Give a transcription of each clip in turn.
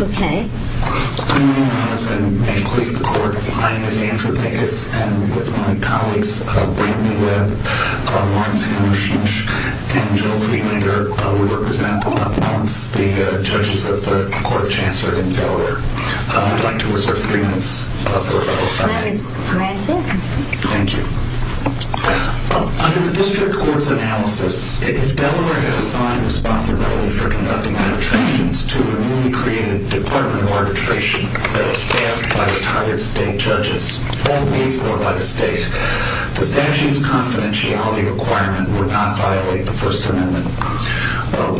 Okay. My name is Andrew Pegas, and with my colleagues Brittany Webb, Lawrence Hendershoch, and Jill Friedlander, we represent Lawrence, the judges of the Court of Chancellor in Delaware. I'd like to reserve three minutes for rebuttal. That is granted. Thank you. Under the District Court's analysis, if Delaware had assigned responsibility for conducting arbitrations to a newly created Department of Arbitration that is staffed by retired state judges, formally formed by the state, the statute's confidentiality requirement would not violate the First Amendment.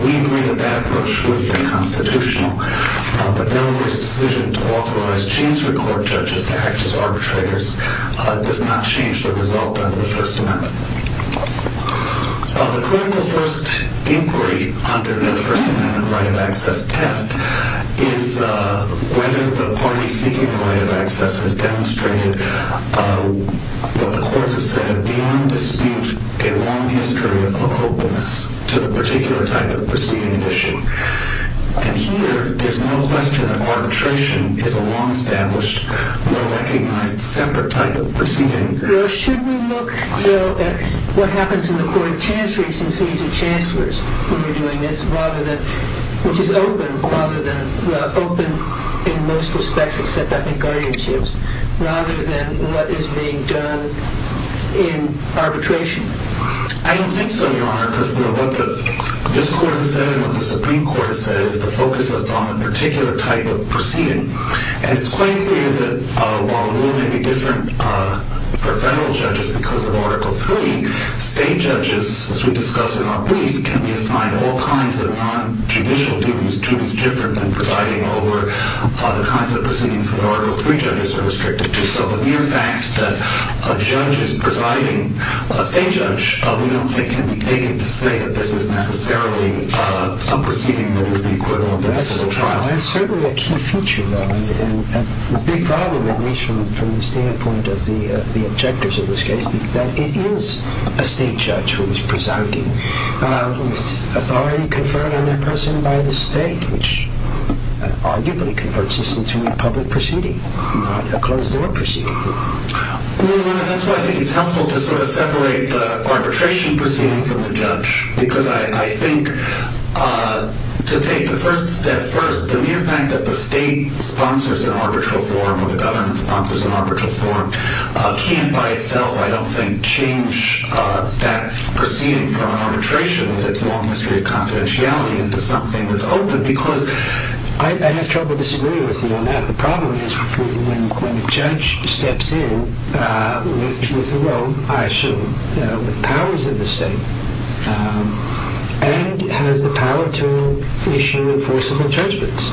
We agree that that approach would be constitutional, but Delaware's decision to authorize Chiefs of the Court judges to act as arbitrators does not change the result under the First Amendment. The clinical first inquiry under the First Amendment right of access test is whether the party seeking the right of access has demonstrated what the courts have said are beyond dispute a long history of openness to the particular type of proceeding issue. And here, there's no question that arbitration is a long-established, well-recognized separate type of proceeding. Well, should we look, Bill, at what happens in the Court of Chancellors since these are chancellors who are doing this, which is open in most respects except, I think, guardianships, rather than what is being done in arbitration? I don't think so, Your Honor, because what the District Court has said and what the Supreme Court has said is to focus us on a particular type of proceeding. And it's quite clear that while the rule may be different for federal judges because of Article III, state judges, as we discussed in our brief, can be assigned all kinds of non-judicial duties to those different than presiding over the kinds of proceedings that Article III judges are restricted to. So the mere fact that a judge is presiding, a state judge, we don't think can be taken to say that this is necessarily a proceeding that is the equivalent of a civil trial. It's certainly a key feature, though, and a big problem, at least from the standpoint of the objectors of this case, that it is a state judge who is presiding with authority conferred on that person by the state, which arguably converts this into a public proceeding, not a closed-door proceeding. Well, Your Honor, that's why I think it's helpful to sort of separate the arbitration proceeding from the judge, because I think to take the first step first, the mere fact that the state sponsors an arbitral forum or the government sponsors an arbitral forum can't by itself, I don't think, change that proceeding from an arbitration with its long history of confidentiality into something that's open, because I have trouble disagreeing with you on that. The problem is when a judge steps in with their own, I assume, with powers of the state and has the power to issue enforceable judgments.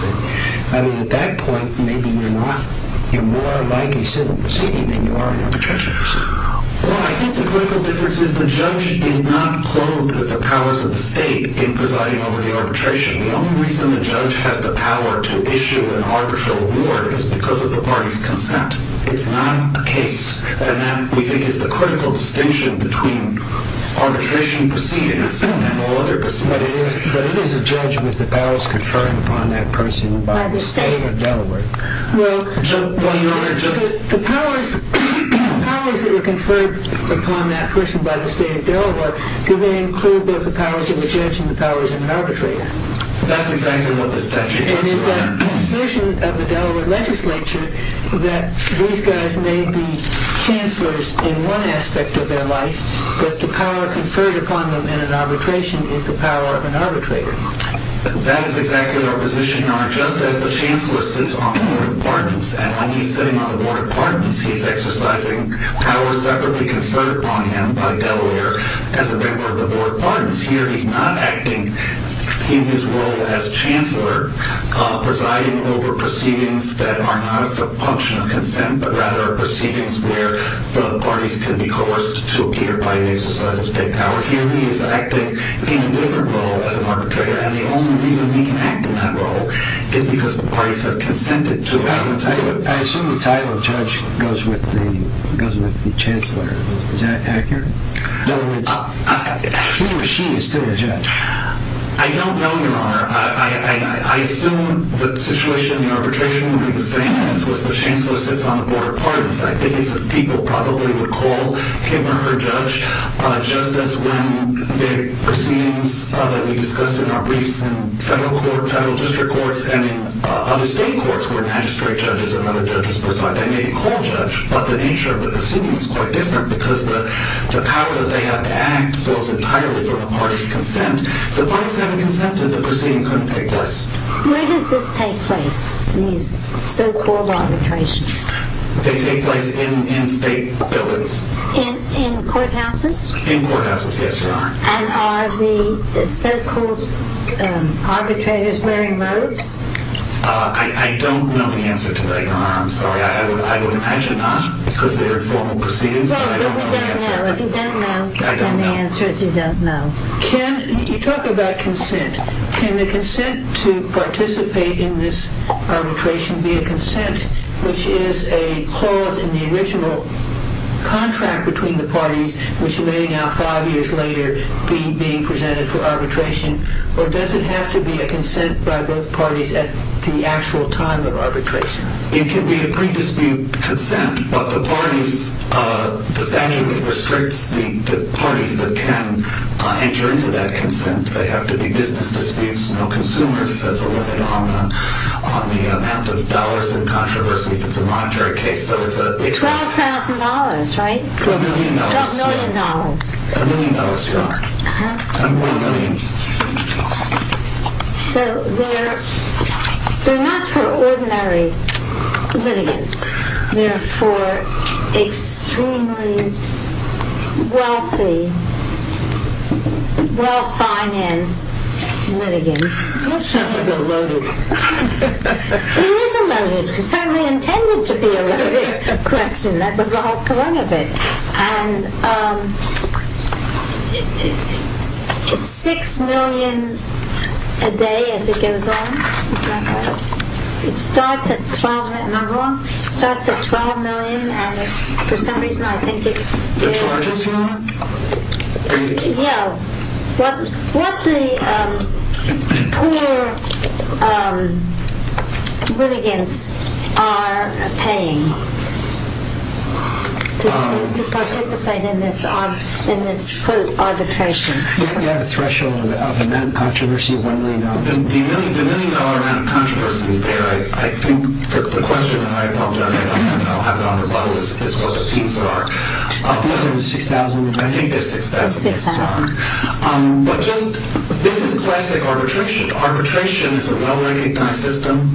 I mean, at that point, maybe you're more like a civil proceeding than you are an arbitration proceeding. Well, I think the critical difference is the judge is not clothed with the powers of the state in presiding over the arbitration. The only reason the judge has the power to issue an arbitral award is because of the party's consent. It's not a case. And that, we think, is the critical distinction between arbitration proceedings and all other proceedings. But it is a judge with the powers conferred upon that person by the state of Delaware. Well, Your Honor, the powers that were conferred upon that person by the state of Delaware, do they include both the powers of the judge and the powers of an arbitrator? That's exactly what the statute is, Your Honor. And is that position of the Delaware legislature that these guys may be chancellors in one aspect of their life, but the power conferred upon them in an arbitration is the power of an arbitrator? That is exactly our position, Your Honor, just as the chancellor sits on the board of pardons. And when he's sitting on the board of pardons, he's exercising powers separately conferred upon him by Delaware as a member of the board of pardons. Here, he's not acting in his role as chancellor presiding over proceedings that are not a function of consent, but rather proceedings where the parties can be coerced to appear by an exercise of state power. Here, he is acting in a different role as an arbitrator. And the only reason he can act in that role is because the parties have consented to it. I assume the title of judge goes with the chancellor. Is that accurate? He or she is still a judge. I don't know, Your Honor. I assume the situation in arbitration would be the same as was the chancellor sits on the board of pardons. I think it's the people probably would call him or her judge, just as when the proceedings that we discussed in our briefs in federal court, federal district courts, and in other state courts where magistrate judges and other judges preside, they may call judge, but the nature of the proceedings is quite different because the power that they have to act falls entirely from a party's consent. So the parties have consented, the proceeding couldn't take place. Where does this take place, these so-called arbitrations? They take place in state buildings. In courthouses? In courthouses, yes, Your Honor. And are the so-called arbitrators wearing robes? I don't know the answer to that, Your Honor. I'm sorry. I would imagine not because they're formal proceedings. No, you don't know. If you don't know, then the answer is you don't know. You talk about consent. Can the consent to participate in this arbitration be a consent, which is a clause in the original contract between the parties, which may now, five years later, be presented for arbitration, or does it have to be a consent by both parties at the actual time of arbitration? It can be a pre-dispute consent, but the statute restricts the parties that can enter into that consent. They have to be business disputes, no consumers. That's a limit on the amount of dollars in controversy if it's a monetary case. $12,000, right? A million dollars. $12 million. A million dollars, Your Honor. A million. So they're not for ordinary litigants. They're for extremely wealthy, well-financed litigants. He's not going to be eloted. He is eloted. He certainly intended to be eloted. That was the whole point of it. And it's $6 million a day as it goes on, is that right? It starts at $12 million. Am I wrong? It starts at $12 million, and for some reason I think it is. That's right, Your Honor. Yeah, what the poor litigants are paying to participate in this, quote, arbitration? We have a threshold of the amount of controversy of $1 million. The million-dollar amount of controversy is there. I think the question, and I apologize, I'll have it on rebuttal, is what the fees are. The fees are $6,000. I think they're $6,000. $6,000. But this is classic arbitration. Arbitration is a well-recognized system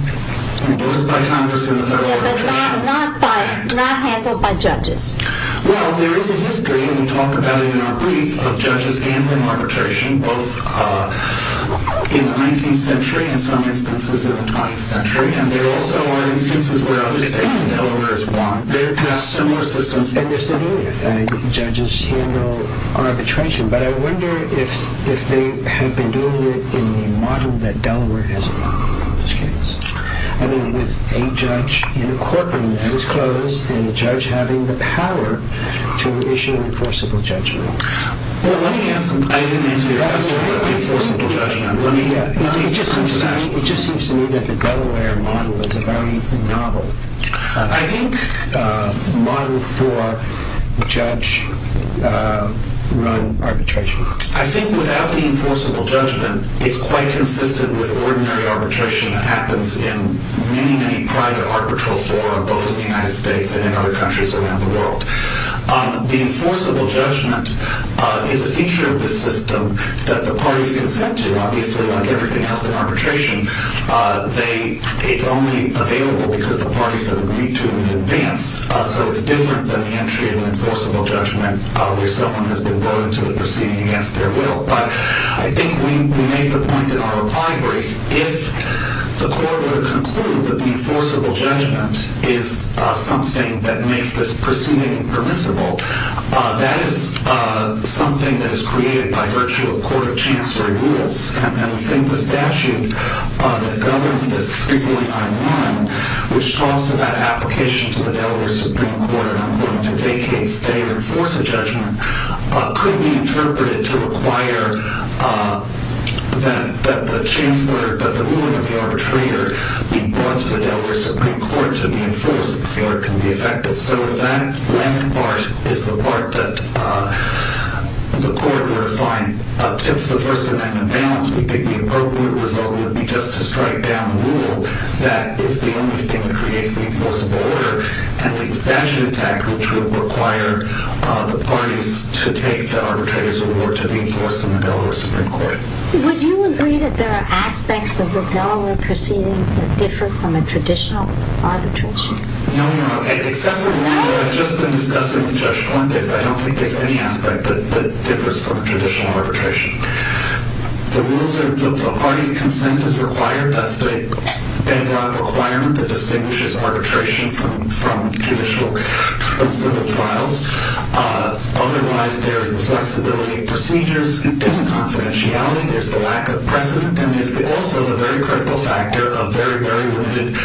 imposed by Congress in the Federal Arbitration Act. Yeah, but not handled by judges. Well, there is a history, and we talk about it in our brief, of judges handling arbitration, both in the 19th century and some instances in the 20th century. And there also are instances where other states, and Delaware is one, have similar systems in their city, and judges handle arbitration. But I wonder if they have been doing it in the model that Delaware has adopted in this case. I mean, with a judge in a courtroom that is closed, and the judge having the power to issue enforceable judgment. Well, let me answer your question about enforceable judgment. It just seems to me that the Delaware model is very novel. I think model for judge-run arbitration. I think without the enforceable judgment, it's quite consistent with ordinary arbitration that happens in many, many private arbitral forums, both in the United States and in other countries around the world. The enforceable judgment is a feature of the system that the parties consent to. Obviously, like everything else in arbitration, it's only available because the parties have agreed to it in advance. So it's different than the entry of an enforceable judgment where someone has been brought into a proceeding against their will. But I think we made the point in our reply brief, if the court were to conclude that the enforceable judgment is something that makes this proceeding permissible, that is something that is created by virtue of court of chancery rules. And I think the statute that governs this 349-1, which talks about application to the Delaware Supreme Court to vacate, stay, or enforce a judgment, could be interpreted to require that the ruling of the arbitrator be brought to the Delaware Supreme Court to be enforced if you feel it can be effective. So if that last part is the part that the court were to find up to the First Amendment balance, we think the appropriate result would be just to strike down the rule that is the only thing that creates the enforceable order and leave the statute intact which would require the parties to take the arbitrator's award to be enforced in the Delaware Supreme Court. Would you agree that there are aspects of the Delaware proceeding that differ from a traditional arbitration? No, Your Honor. Except for the rule that I've just been discussing with Judge Fuentes, I don't think there's any aspect that differs from a traditional arbitration. The rules are that the party's consent is required. That's the bedrock requirement that distinguishes arbitration from judicial and civil trials. Otherwise, there's the flexibility of procedures. There's confidentiality. There's the lack of precedent. There's also the very critical factor of very, very limited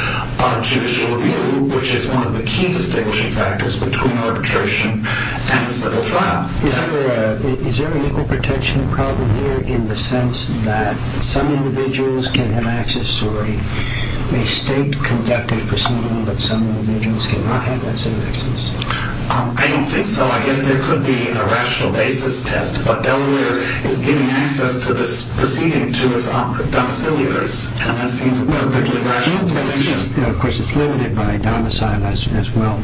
judicial review which is one of the key distinguishing factors between arbitration and a civil trial. Is there an equal protection problem here in the sense that some individuals can have access to a state-conducted proceeding but some individuals cannot have that same access? I don't think so. I guess there could be a rational basis test, but Delaware is giving access to this proceeding to its domiciliaries, and that seems perfectly rational to me. Of course, it's limited by domicile as well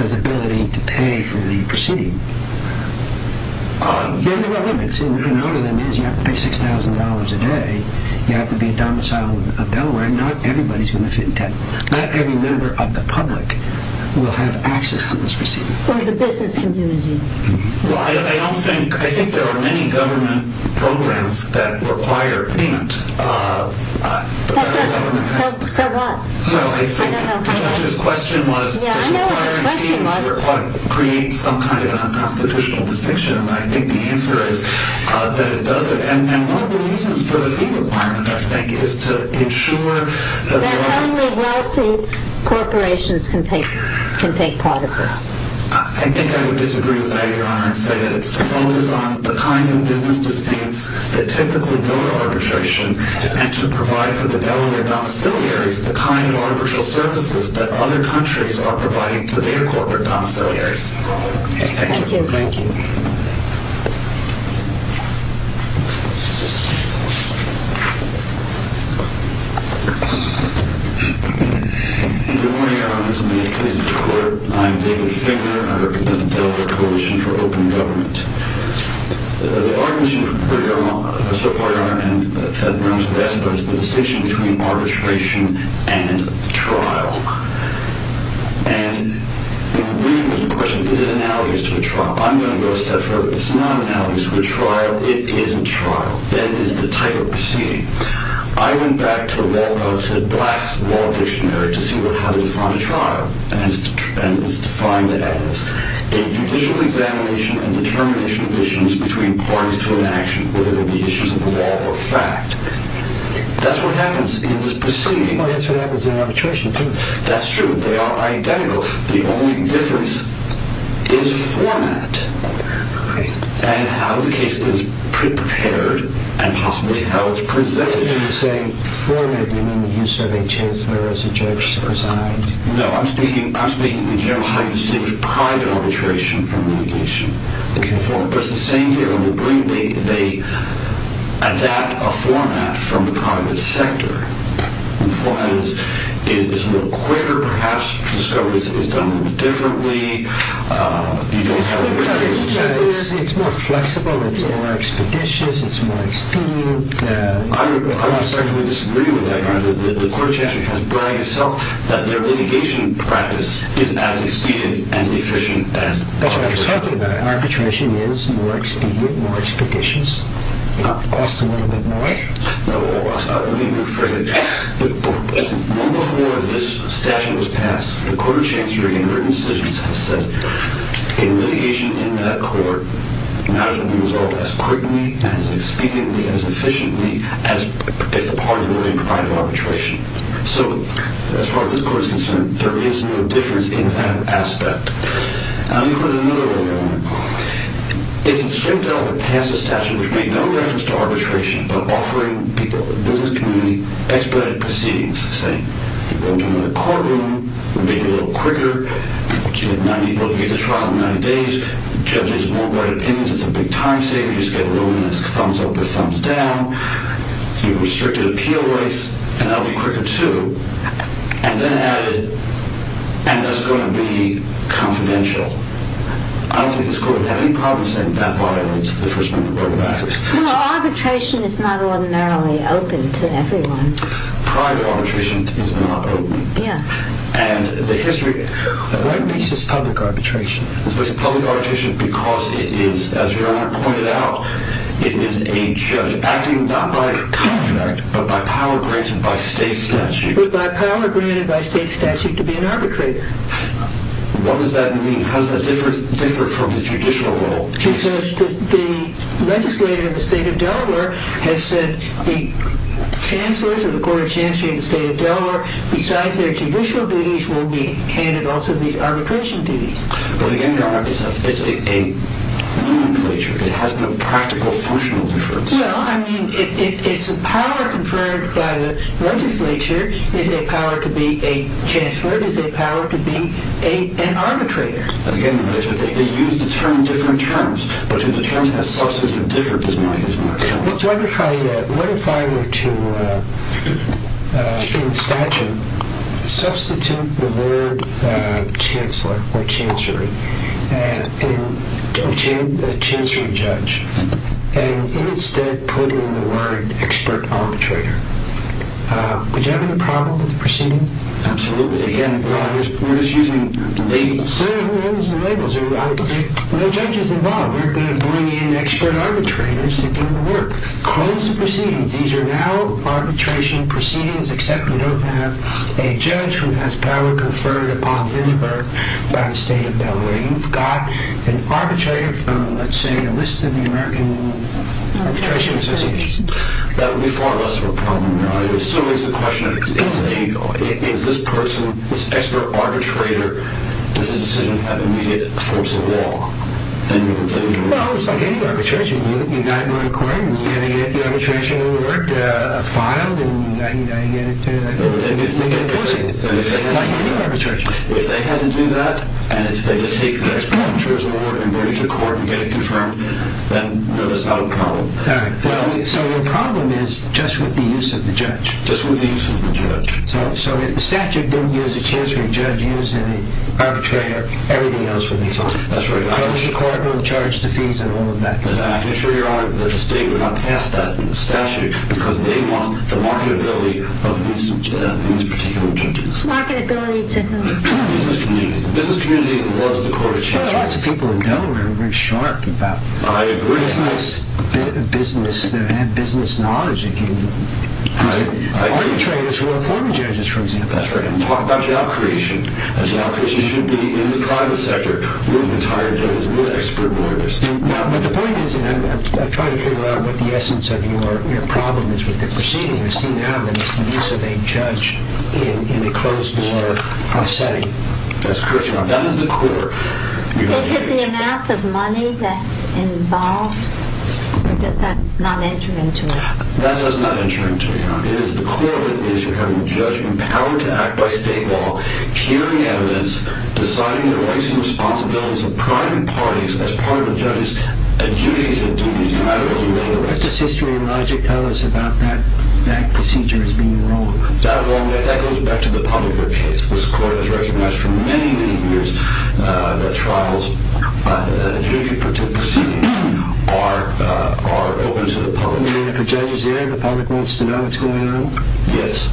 as ability to pay for the proceeding. There are limits, and one of them is you have to pay $6,000 a day. You have to be a domicile of Delaware, and not everybody's going to fit in 10. Not every member of the public will have access to this proceeding. Or the business community. I think there are many government programs that require payment. So what? I think Judge's question was does requiring payments create some kind of unconstitutional distinction, and I think the answer is that it doesn't. One of the reasons for the fee requirement, I think, is to ensure that only wealthy corporations can take part of this. I think I would disagree with that, Your Honor, and say that it's to focus on the kinds of business disputes that typically go to arbitration and to provide for the Delaware domiciliaries the kind of arbitral services that other countries are providing to their corporate domiciliaries. Thank you. Thank you. Good morning, Your Honors, and the accused in court. I'm David Finger. I represent the Delaware Coalition for Open Government. The argument so far, Your Honor, and the federal members have asked about is the distinction between arbitration and trial. And in the briefing there was a question, is it analogous to a trial? I'm going to go a step further. It's not analogous to a trial. It is a trial. That is the type of proceeding. I went back to the Wall Street Dictionary to see how to define a trial, and it was defined as a judicial examination and determination of issues between parties to an action, whether they be issues of law or fact. That's what happens in this proceeding. That's what happens in arbitration, too. That's true. They are identical. The only difference is format and how the case is prepared and possibly how it's presented. When you say format, do you mean the use of a chancellor as a judge to preside? No. I'm speaking in general how you distinguish private arbitration from litigation. Okay. But it's the same here. In the briefing, they adapt a format from the private sector. The format is a little quicker, perhaps. The scope is done a little differently. You don't have the privilege. It's more flexible. It's more expeditious. It's more expedient. I would certainly disagree with that. The court of chancellor has bragged itself that their litigation practice is as expedient and efficient as arbitration. That's what I was talking about. Arbitration is more expedient, more expeditious. It costs a little bit more. Let me rephrase it. Before this statute was passed, the court of chancellor, in her decisions, has said in litigation in that court, matters will be resolved as quickly and as expediently and as efficiently as if the party were to provide arbitration. So, as far as this court is concerned, there is no difference in that aspect. Now, you heard another argument. It's a strict element to pass a statute which made no reference to arbitration but offering people, the business community, expedited proceedings, saying you're going to another courtroom. We'll make it a little quicker. You get to trial in 90 days. Judges won't write opinions. It's a big time saver. You just get a ruling that's thumbs up or thumbs down. You have restricted appeal rights, and that will be quicker too. And then added, and that's going to be confidential. I don't think this court would have any problem saying that violates the First Amendment right of access. No, arbitration is not ordinarily open to everyone. Private arbitration is not open. Yeah. And the history... Why makes this public arbitration? It's a public arbitration because it is, as Your Honor pointed out, it is a judge acting not by contract but by power granted by state statute. But by power granted by state statute to be an arbitrator. What does that mean? How does that differ from the judicial world? Because the legislator of the state of Delaware has said the Chancellor of the Court of Chancellors of the State of Delaware, besides their judicial duties, will be handed also these arbitration duties. But again, Your Honor, it's a legislature. It has no practical, functional difference. Well, I mean, it's a power conferred by the legislature. It's a power to be a Chancellor. It's a power to be an arbitrator. Again, Your Honor, they use the term different terms. But to determine a substantive difference is not a use of my power. Your Honor, what if I were to, in statute, substitute the word Chancellor or Chancery in Chancellor Judge and instead put in the word Expert Arbitrator? Would you have any problem with the proceeding? Absolutely. Again, Your Honor, we're just using labels. We're using labels. There are no judges involved. We're going to bring in Expert Arbitrators to do the work. Close the proceedings. These are now arbitration proceedings, except we don't have a judge who has power conferred upon him or her by the State of Delaware. You've got an arbitrator from, let's say, a list of the American Arbitration Association. That would be far less of a problem, Your Honor. It still raises the question, is this person, this Expert Arbitrator, does his decision have immediate force of law? Well, it's like any arbitration. You've got to go to court and you've got to get the arbitration word filed and you've got to get it to the Supreme Court. It's like any arbitration. If they had to do that, and if they could take the Expert Arbitrator's word and bring it to court and get it confirmed, then no, that's not a problem. All right. So your problem is just with the use of the judge. Just with the use of the judge. So if the statute didn't use a Chancery Judge, use an Arbitrator, everything else would be fine. That's right. The court will charge the fees and all of that. Make sure, Your Honor, that the state would not pass that statute because they want the marketability of these particular judges. Marketability to who? The business community. The business community loves the Court of Chancery. Lots of people in Delaware are very sharp about business knowledge. I agree. Arbitrators who are former judges, for example. That's right. And talk about job creation. Job creation should be in the private sector with retired judges, with expert lawyers. But the point is, and I'm trying to figure out what the essence of your problem is with the proceeding. I've seen it happen. It's the use of a judge in a closed-door setting. That's correct, Your Honor. That is the core. Is it the amount of money that's involved? That does not enter into it, Your Honor. The core of it is you're having a judge empowered to act by state law, carrying evidence, deciding the rights and responsibilities of private parties as part of the judge's duty to do these matter-of-the-little rights. What does history and logic tell us about that procedure as being wrong? That, Your Honor, that goes back to the public court case. This court has recognized for many, many years that trials, that a jury-protected proceedings are open to the public. Does that mean that if a judge is there, the public wants to know what's going on? Yes.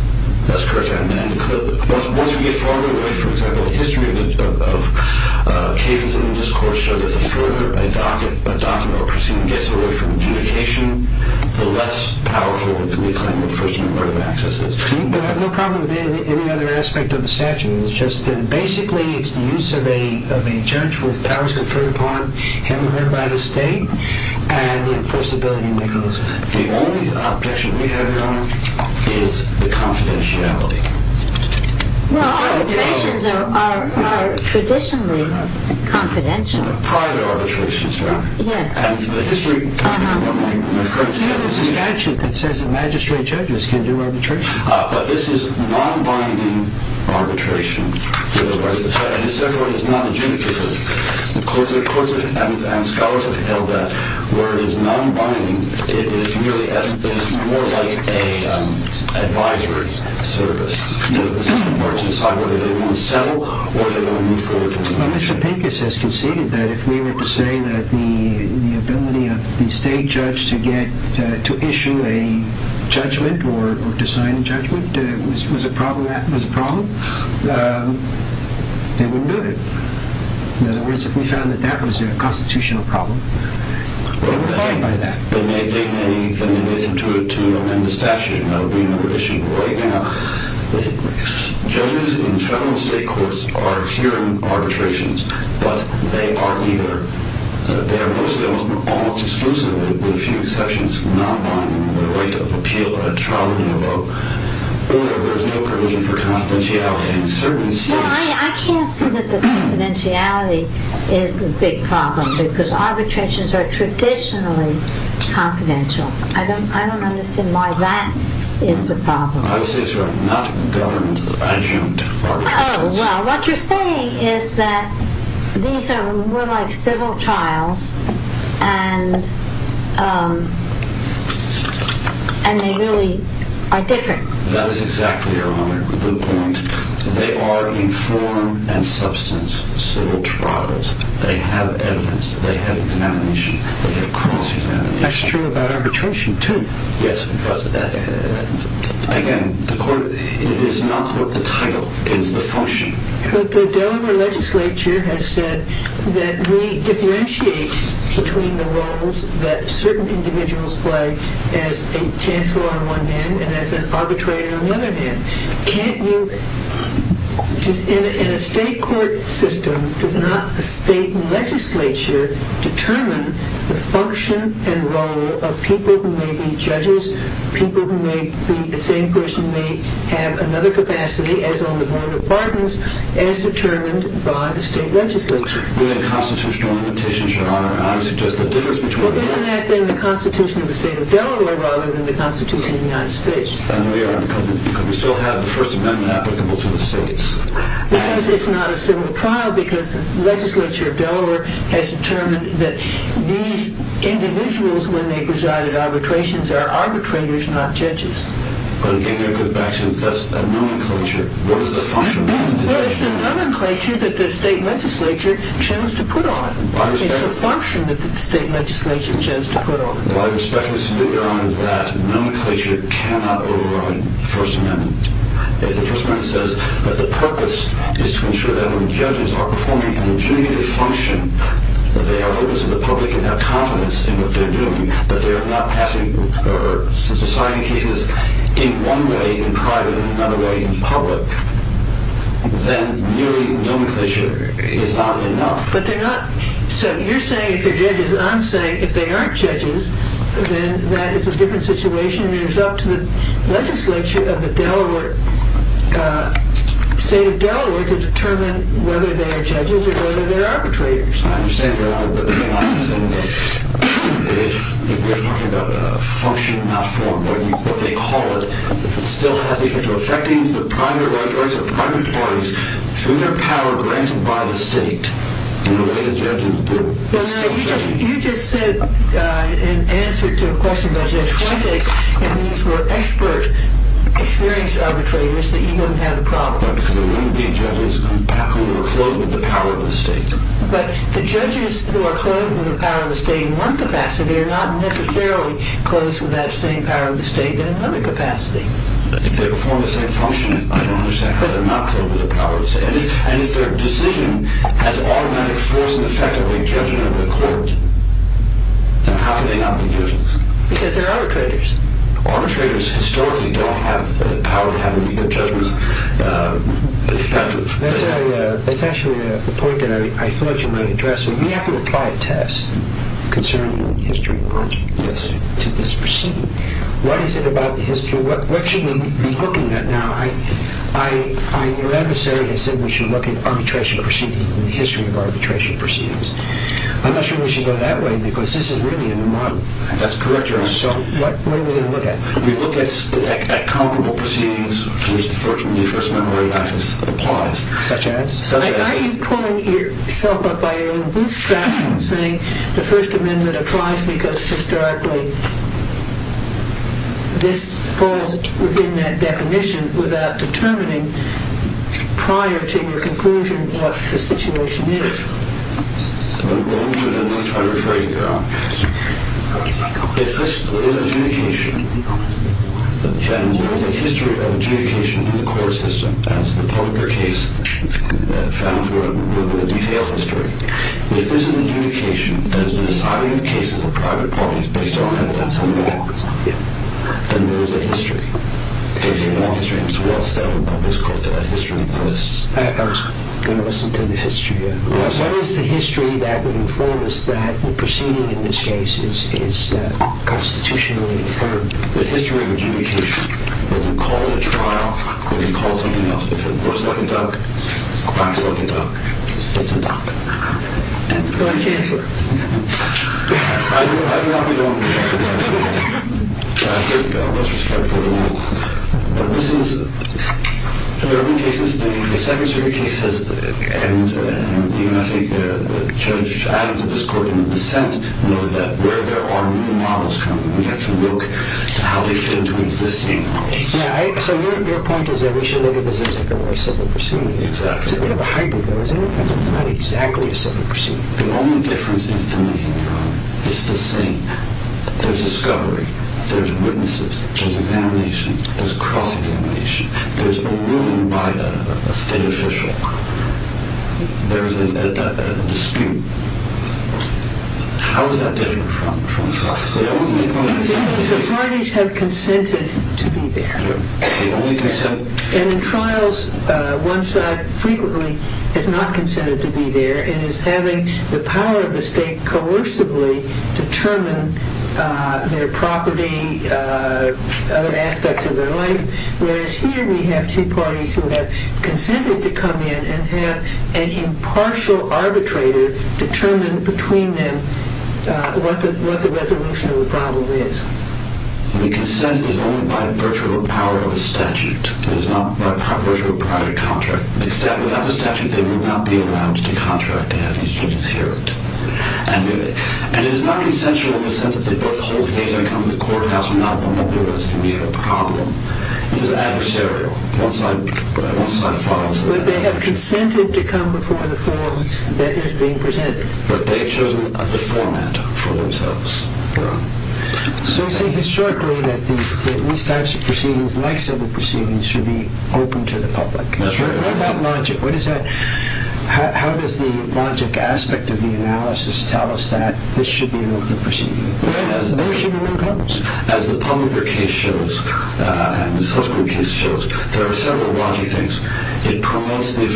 That's correct, Your Honor. Once you get farther away, for example, the history of cases in this court shows that the further a docket or a proceeding gets away from adjudication, the less powerful can be the claim of first-degree murder of accesses. But I have no problem with any other aspect of the statute. It's just that basically it's the use of a judge with powers conferred upon him by the state and the enforceability that goes with it. The only objection we have, Your Honor, is the confidentiality. Well, arbitrations are traditionally confidential. Prior to arbitrations, Your Honor. Yes. And the history... There's a statute that says that magistrate judges can do arbitration. But this is non-binding arbitration. This, therefore, is not adjudicative. The courts and scholars have held that where it is non-binding, it is more like an advisory service. It's a margin side where they want to settle or they want to move forward. Mr. Pincus has conceded that if we were to say that the ability of the state judge to issue a judgment or to sign a judgment was a problem, they wouldn't do it. In other words, if we found that that was a constitutional problem, they wouldn't abide by that. They may think anything that is intuitive to amend the statute. That would be another issue. But right now, judges in federal and state courts are hearing arbitrations. But they are either... They are mostly almost exclusively, with a few exceptions, non-binding with the right to appeal a trial in a vote or there's no provision for confidentiality in certain states. Well, I can't say that the confidentiality is the big problem because arbitrations are traditionally confidential. I don't understand why that is the problem. I would say it's not government-adjunct arbitrations. Oh, well, what you're saying is that these are more like civil trials and they really are different. That is exactly your point. They are in form and substance civil trials. They have evidence. They have a denomination. They have cross-denomination. That's true about arbitration, too. Yes, but again, it is not what the title is, the function. But the Delaware legislature has said that we differentiate between the roles that certain individuals play as a chancellor on one hand and as an arbitrator on the other hand. Can't you, in a state court system, does not the state legislature determine the function and role of people who may be judges, people who may be the same person, may have another capacity as on the board of pardons as determined by the state legislature? We have constitutional limitations, Your Honor. I would suggest the difference between the two. Well, isn't that then the constitution of the state of Delaware rather than the constitution of the United States? And we are because we still have the First Amendment applicable to the states. Because it's not a civil trial because the legislature of Delaware has determined that these individuals, when they preside at arbitrations, are arbitrators, not judges. But again, you're going back to the nomenclature. What is the function of the legislature? Well, it's the nomenclature that the state legislature chose to put on. It's the function that the state legislature chose to put on. Well, I respectfully submit, Your Honor, that nomenclature cannot override the First Amendment. If the First Amendment says that the purpose is to ensure that when judges are performing a legitimate function, that they are open to the public and have confidence in what they're doing, that they are not passing or deciding cases in one way in private and in another way in public, then merely nomenclature is not enough. But they're not... So you're saying if they're judges, and I'm saying if they aren't judges, then that is a different situation. It is up to the legislature of the state of Delaware to determine whether they are judges or whether they are arbitrators. I understand, Your Honor, but I do not understand that if we're talking about a function not formed, or what they call it, if it still has the effect of affecting the private rights of private parties through their power granted by the state in the way that judges do. Well, no, you just said in answer to a question by Judge Wontek that these were expert, experienced arbitrators, that you wouldn't have a problem. Right, because there wouldn't be judges who were clothed with the power of the state. But the judges who are clothed with the power of the state in one capacity are not necessarily clothed with that same power of the state in another capacity. If they perform the same function, I don't understand how they're not clothed with the power of the state. And if their decision has automatic force and effect of a judgment of the court, then how can they not be judges? Because they're arbitrators. Arbitrators historically don't have the power to have a legal judgment effective. That's actually a point that I thought you might address. We have to apply a test concerning the history of arbitration to this proceeding. What is it about the history? What should we be looking at now? Your adversary has said we should look at arbitration proceedings and the history of arbitration proceedings. I'm not sure we should go that way because this is really a new model. That's correct, Your Honor. So what are we going to look at? We look at comparable proceedings to which the First Amendment practice applies. Such as? Are you pulling yourself up by your own bootstraps and saying the First Amendment applies because historically this falls within that definition without determining prior to your conclusion what the situation is? Let me try to refer you, Your Honor. If this is adjudication, then there is a history of adjudication in the court system as the public or case found through a detailed history. If this is adjudication, that is the deciding of cases of private parties based on evidence and law, then there is a history. There is a law history. And so what's the history of this case? I'm going to listen to the history. What is the history that would inform us that the proceeding in this case is constitutionally affirmed? The history of adjudication. If you call it a trial, if you call it something else, if it looks like a duck, it's a duck. It's a duck. And the current chancellor? I do not belong to that. Let's respect the rule. But this is, in urban cases, the second-degree cases, and even I think Judge Adams of this court in the dissent noted that where there are new models coming, we have to look to how they fit into existing models. So your point is that we should look at this as a very simple proceeding. Exactly. It's a bit of a hybrid, though. It's not exactly a simple proceeding. The only difference is the meaning, Your Honor. It's the same. There's discovery. There's witnesses. There's examination. There's cross-examination. There's a ruling by a state official. There's a dispute. How is that different from trial? The parties have consented to be there. They only consent? And in trials, one side frequently has not consented to be there and is having the power of the state coercively determine their property, other aspects of their life, whereas here we have two parties who have consented to come in and have an impartial arbitrator determine between them what the resolution of the problem is. The consent is only by virtue of a power of a statute. It is not by virtue of a private contract. Without the statute, they would not be allowed to contract and have these judges hear it. And it is not consensual in the sense that they both hold the case and not one of the others can be a problem. It is adversarial. One side follows the other. But they have consented to come before the forum that is being presented. But they have chosen the format for themselves. So you say historically that these types of proceedings, like civil proceedings, should be open to the public. That's right. What about logic? How does the logic aspect of the analysis tell us that this should be an open proceeding? There should be no problems. As the Publicker case shows, and the Susskind case shows, there are several logic things. It promotes the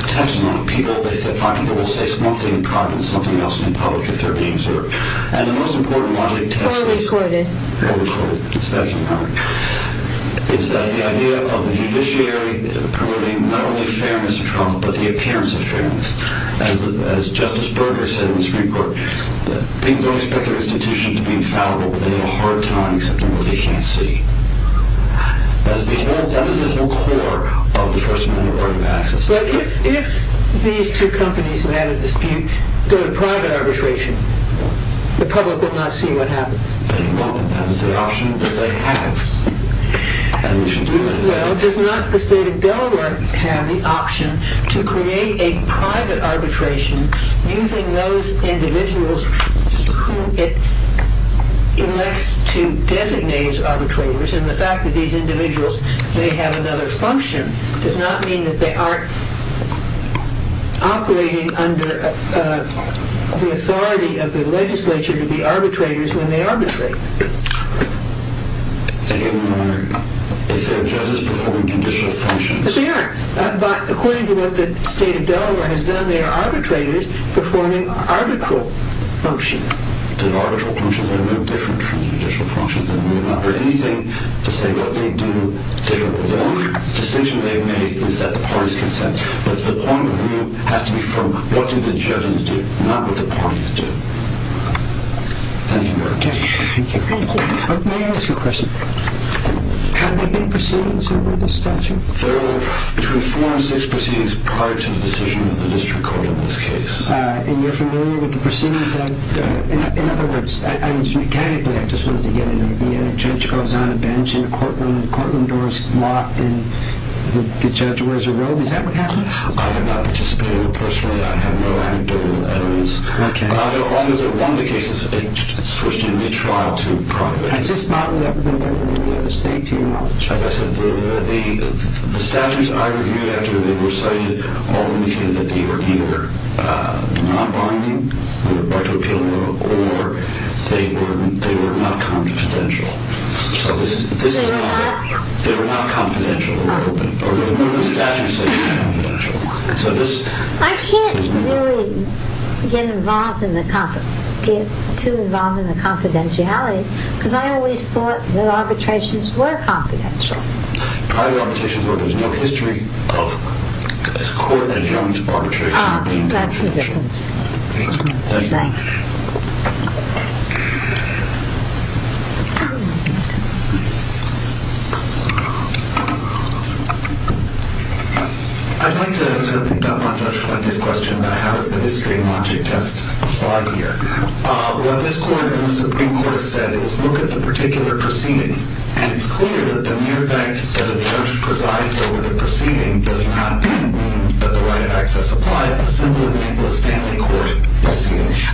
protection of people. They find people will say one thing in private and something else in public if they're being observed. And the most important logic test is... Poorly quoted. Poorly quoted. It's that kind of logic. It's that the idea of the judiciary promoting not only fairness to Trump but the appearance of fairness. As Justice Berger said in this report, people don't expect their institutions to be infallible, but they have a hard time accepting what they can't see. That is the whole core of the First Amendment right of access. But if these two companies have had a dispute, go to private arbitration, the public will not see what happens. That is the option that they have. And we should do that. Well, does not the state of Delaware have the option to create a private arbitration using those individuals whom it elects to designate as arbitrators? And the fact that these individuals may have another function does not mean that they aren't operating under the authority of the legislature to be arbitrators when they arbitrate. If they are judges performing judicial functions... Yes, they are. But according to what the state of Delaware has done, they are arbitrators performing arbitral functions. The arbitral functions are no different from judicial functions. And we have not heard anything to say what they do differently. The only distinction they've made is that the parties consent. But the point of view has to be from what do the judges do, not what the parties do. Thank you, Mark. Thank you. May I ask a question? Have there been proceedings over this statute? There were between four and six proceedings prior to the decision of the district court in this case. And you're familiar with the proceedings? In other words, mechanically, I just wanted to get in there. The judge goes on a bench in a courtroom, and the courtroom door is locked, and the judge wears a robe. Is that what happens? I have not participated personally. I have no anecdotal evidence. Okay. As long as they're one of the cases switched in mid-trial to private. Has this not been reviewed by the state, too? As I said, the statutes I reviewed after they were cited all indicated that they were either non-binding or to appeal, or they were not confidential. They were not? They were not confidential. The statutes say they're confidential. I can't really get too involved in the confidentiality, because I always thought that arbitrations were confidential. Private arbitrations were. There's no history of this Court adjourned arbitration being confidential. Ah, that's the difference. Thank you. Thanks. I'd like to pick up on Judge Flanagan's question about how does the history and logic test apply here. What this Court and the Supreme Court said is, look at the particular proceeding, and it's clear that the mere fact that a judge presides over the proceeding does not mean that the right of access applied,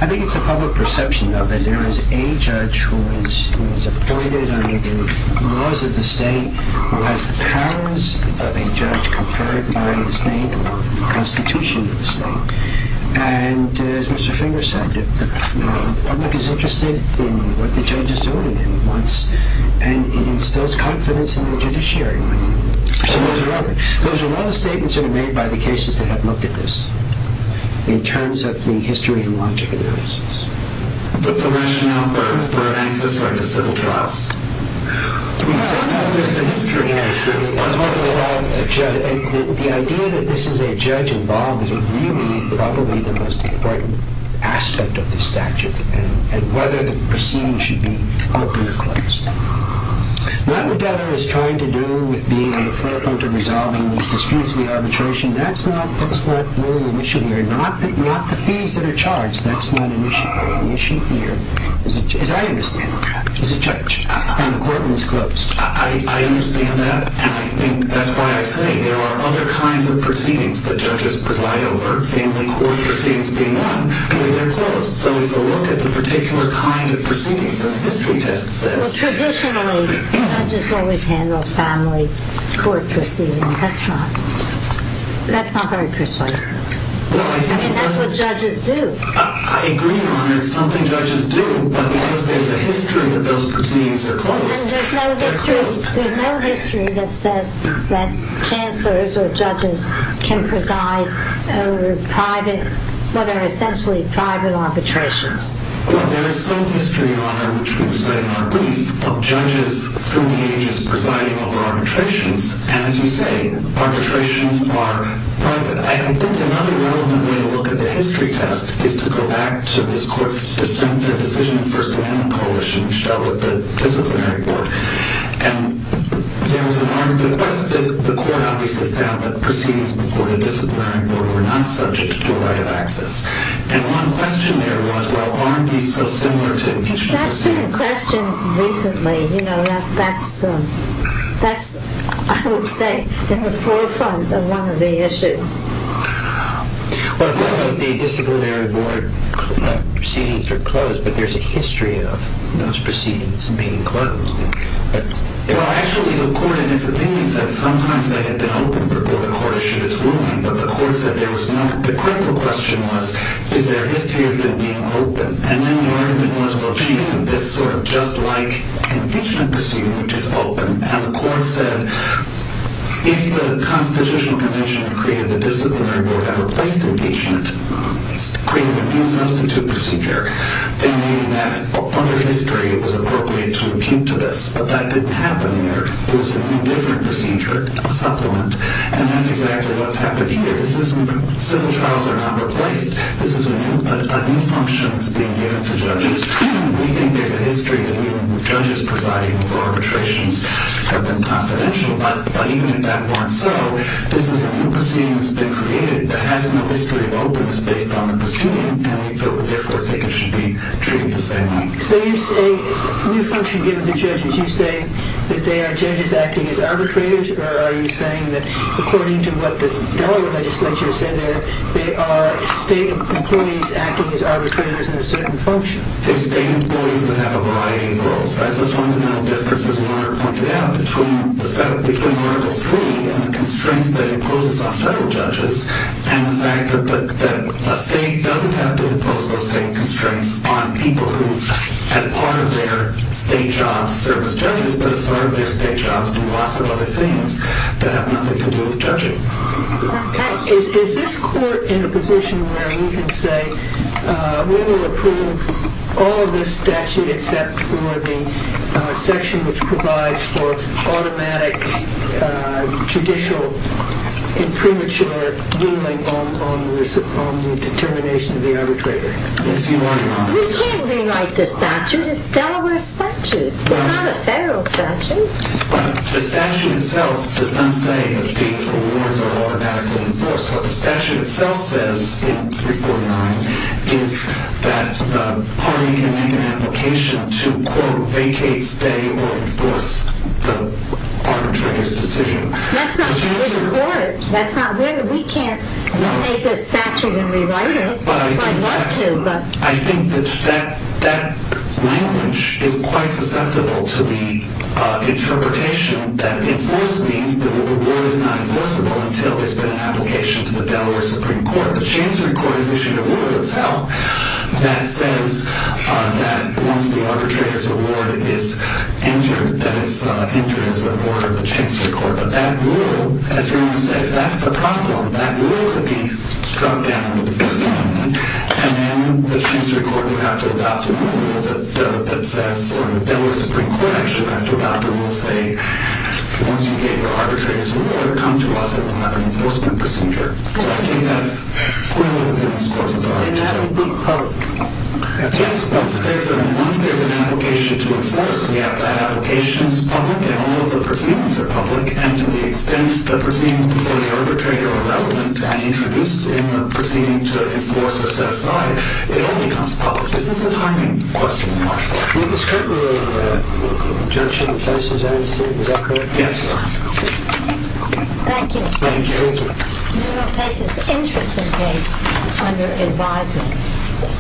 I think it's a public perception, though, that there is a judge who is appointed under the laws of the state who has the powers of a judge conferred by the state or the Constitution of the state. And as Mr. Finger said, the public is interested in what the judge is doing at once, and it instills confidence in the judiciary. Those are all statements that are made by the cases that have looked at this. In terms of the history and logic analysis. But the rationale for an access right to civil trials? The idea that this is a judge involved is really probably the most important aspect of the statute and whether the proceeding should be open or closed. What Medellin is trying to do with being the forefront in resolving these disputes of the arbitration, that's not really an issue here. Not the fees that are charged. That's not an issue here. The issue here is, as I understand it, is a judge, and the court is closed. I understand that, and I think that's why I say there are other kinds of proceedings that judges preside over, family court proceedings being one, but they're closed. So it's a look at the particular kind of proceedings that the history test says. Traditionally, judges always handle family court proceedings. That's not very persuasive. I mean, that's what judges do. I agree, Your Honor. It's something judges do, but because there's a history that those proceedings are closed. There's no history that says that chancellors or judges can preside over private, what are essentially private arbitrations. Well, there is some history, Your Honor, which we will say in our brief, of judges through the ages presiding over arbitrations. And as you say, arbitrations are private. I think another relevant way to look at the history test is to go back to this court's dissent, their decision in the First Amendment Coalition, which dealt with the disciplinary board. And there was a request that the court obviously found that proceedings before the disciplinary board were not subject to a right of access. And one question there was, well, aren't these so similar to each other? That's been a question recently. You know, that's, I would say, in the forefront of one of the issues. Well, it looks like the disciplinary board proceedings are closed, but there's a history of those proceedings being closed. Well, actually, the court in its opinion said sometimes they had been open before the court issued its ruling, but the court said there was none. The critical question was, is there history of them being open? And then the argument was, well, gee, isn't this sort of just like an impeachment proceeding, which is open? And the court said, if the Constitutional Convention created the disciplinary board and replaced impeachment, created a new substitute procedure, then maybe that other history was appropriate to impute to this. But that didn't happen there. It was a new, different procedure, a supplement. And that's exactly what's happened here. Civil trials are not replaced. This is a new function that's being given to judges. We think there's a history that judges presiding over arbitrations have been confidential. But even if that weren't so, this is a new proceeding that's been created that has no history of openness based on the proceeding, and we feel the difference. I think it should be treated the same way. So you say a new function given to judges. You say that they are judges acting as arbitrators, or are you saying that, according to what the Delaware legislature said there, they are state employees acting as arbitrators in a certain function? They're state employees that have a variety of roles. That's a fundamental difference, as Warner pointed out, between Article 3 and the constraints that it imposes on federal judges and the fact that a state doesn't have to impose those same constraints on people who, as part of their state jobs, serve as judges, but as part of their state jobs do lots of other things that have nothing to do with judging. Is this court in a position where we can say we will approve all of this statute except for the section which provides for automatic judicial and premature ruling on the determination of the arbitrator? We can't rewrite the statute. It's Delaware's statute. It's not a federal statute. The statute itself does not say that the awards are automatically enforced. What the statute itself says in 349 is that the party can make an application to, quote, vacate, stay, or enforce the arbitrator's decision. That's not where we're in court. That's not where we can't take a statute and rewrite it if we'd like to. I think that that language is quite susceptible to the interpretation that enforce means that the award is not enforceable until there's been an application to the Delaware Supreme Court. The Chancery Court has issued a rule itself that says that once the arbitrator's award is entered, that it's entered as an order of the Chancery Court. But that rule, as Ron said, if that's the problem, that rule could be struck down with the first amendment and then the Chancery Court would have to adopt a rule that says, or the Delaware Supreme Court actually would have to adopt a rule say, once you gave the arbitrator's award, come to us and we'll have an enforcement procedure. So I think that's clearly within the scores of the article. And that would be public. Yes, but once there's an application to enforce, we have to have applications public, and all of the proceedings are public, and to the extent the proceedings before the arbitrator are relevant and introduced in the proceeding to enforce or set aside, it all becomes public. This is a timing question. Mr. Strickler, the judge in the first instance, is that correct? Yes, Your Honor. Thank you. Thank you. Thank you. You will take this interesting case under advisement.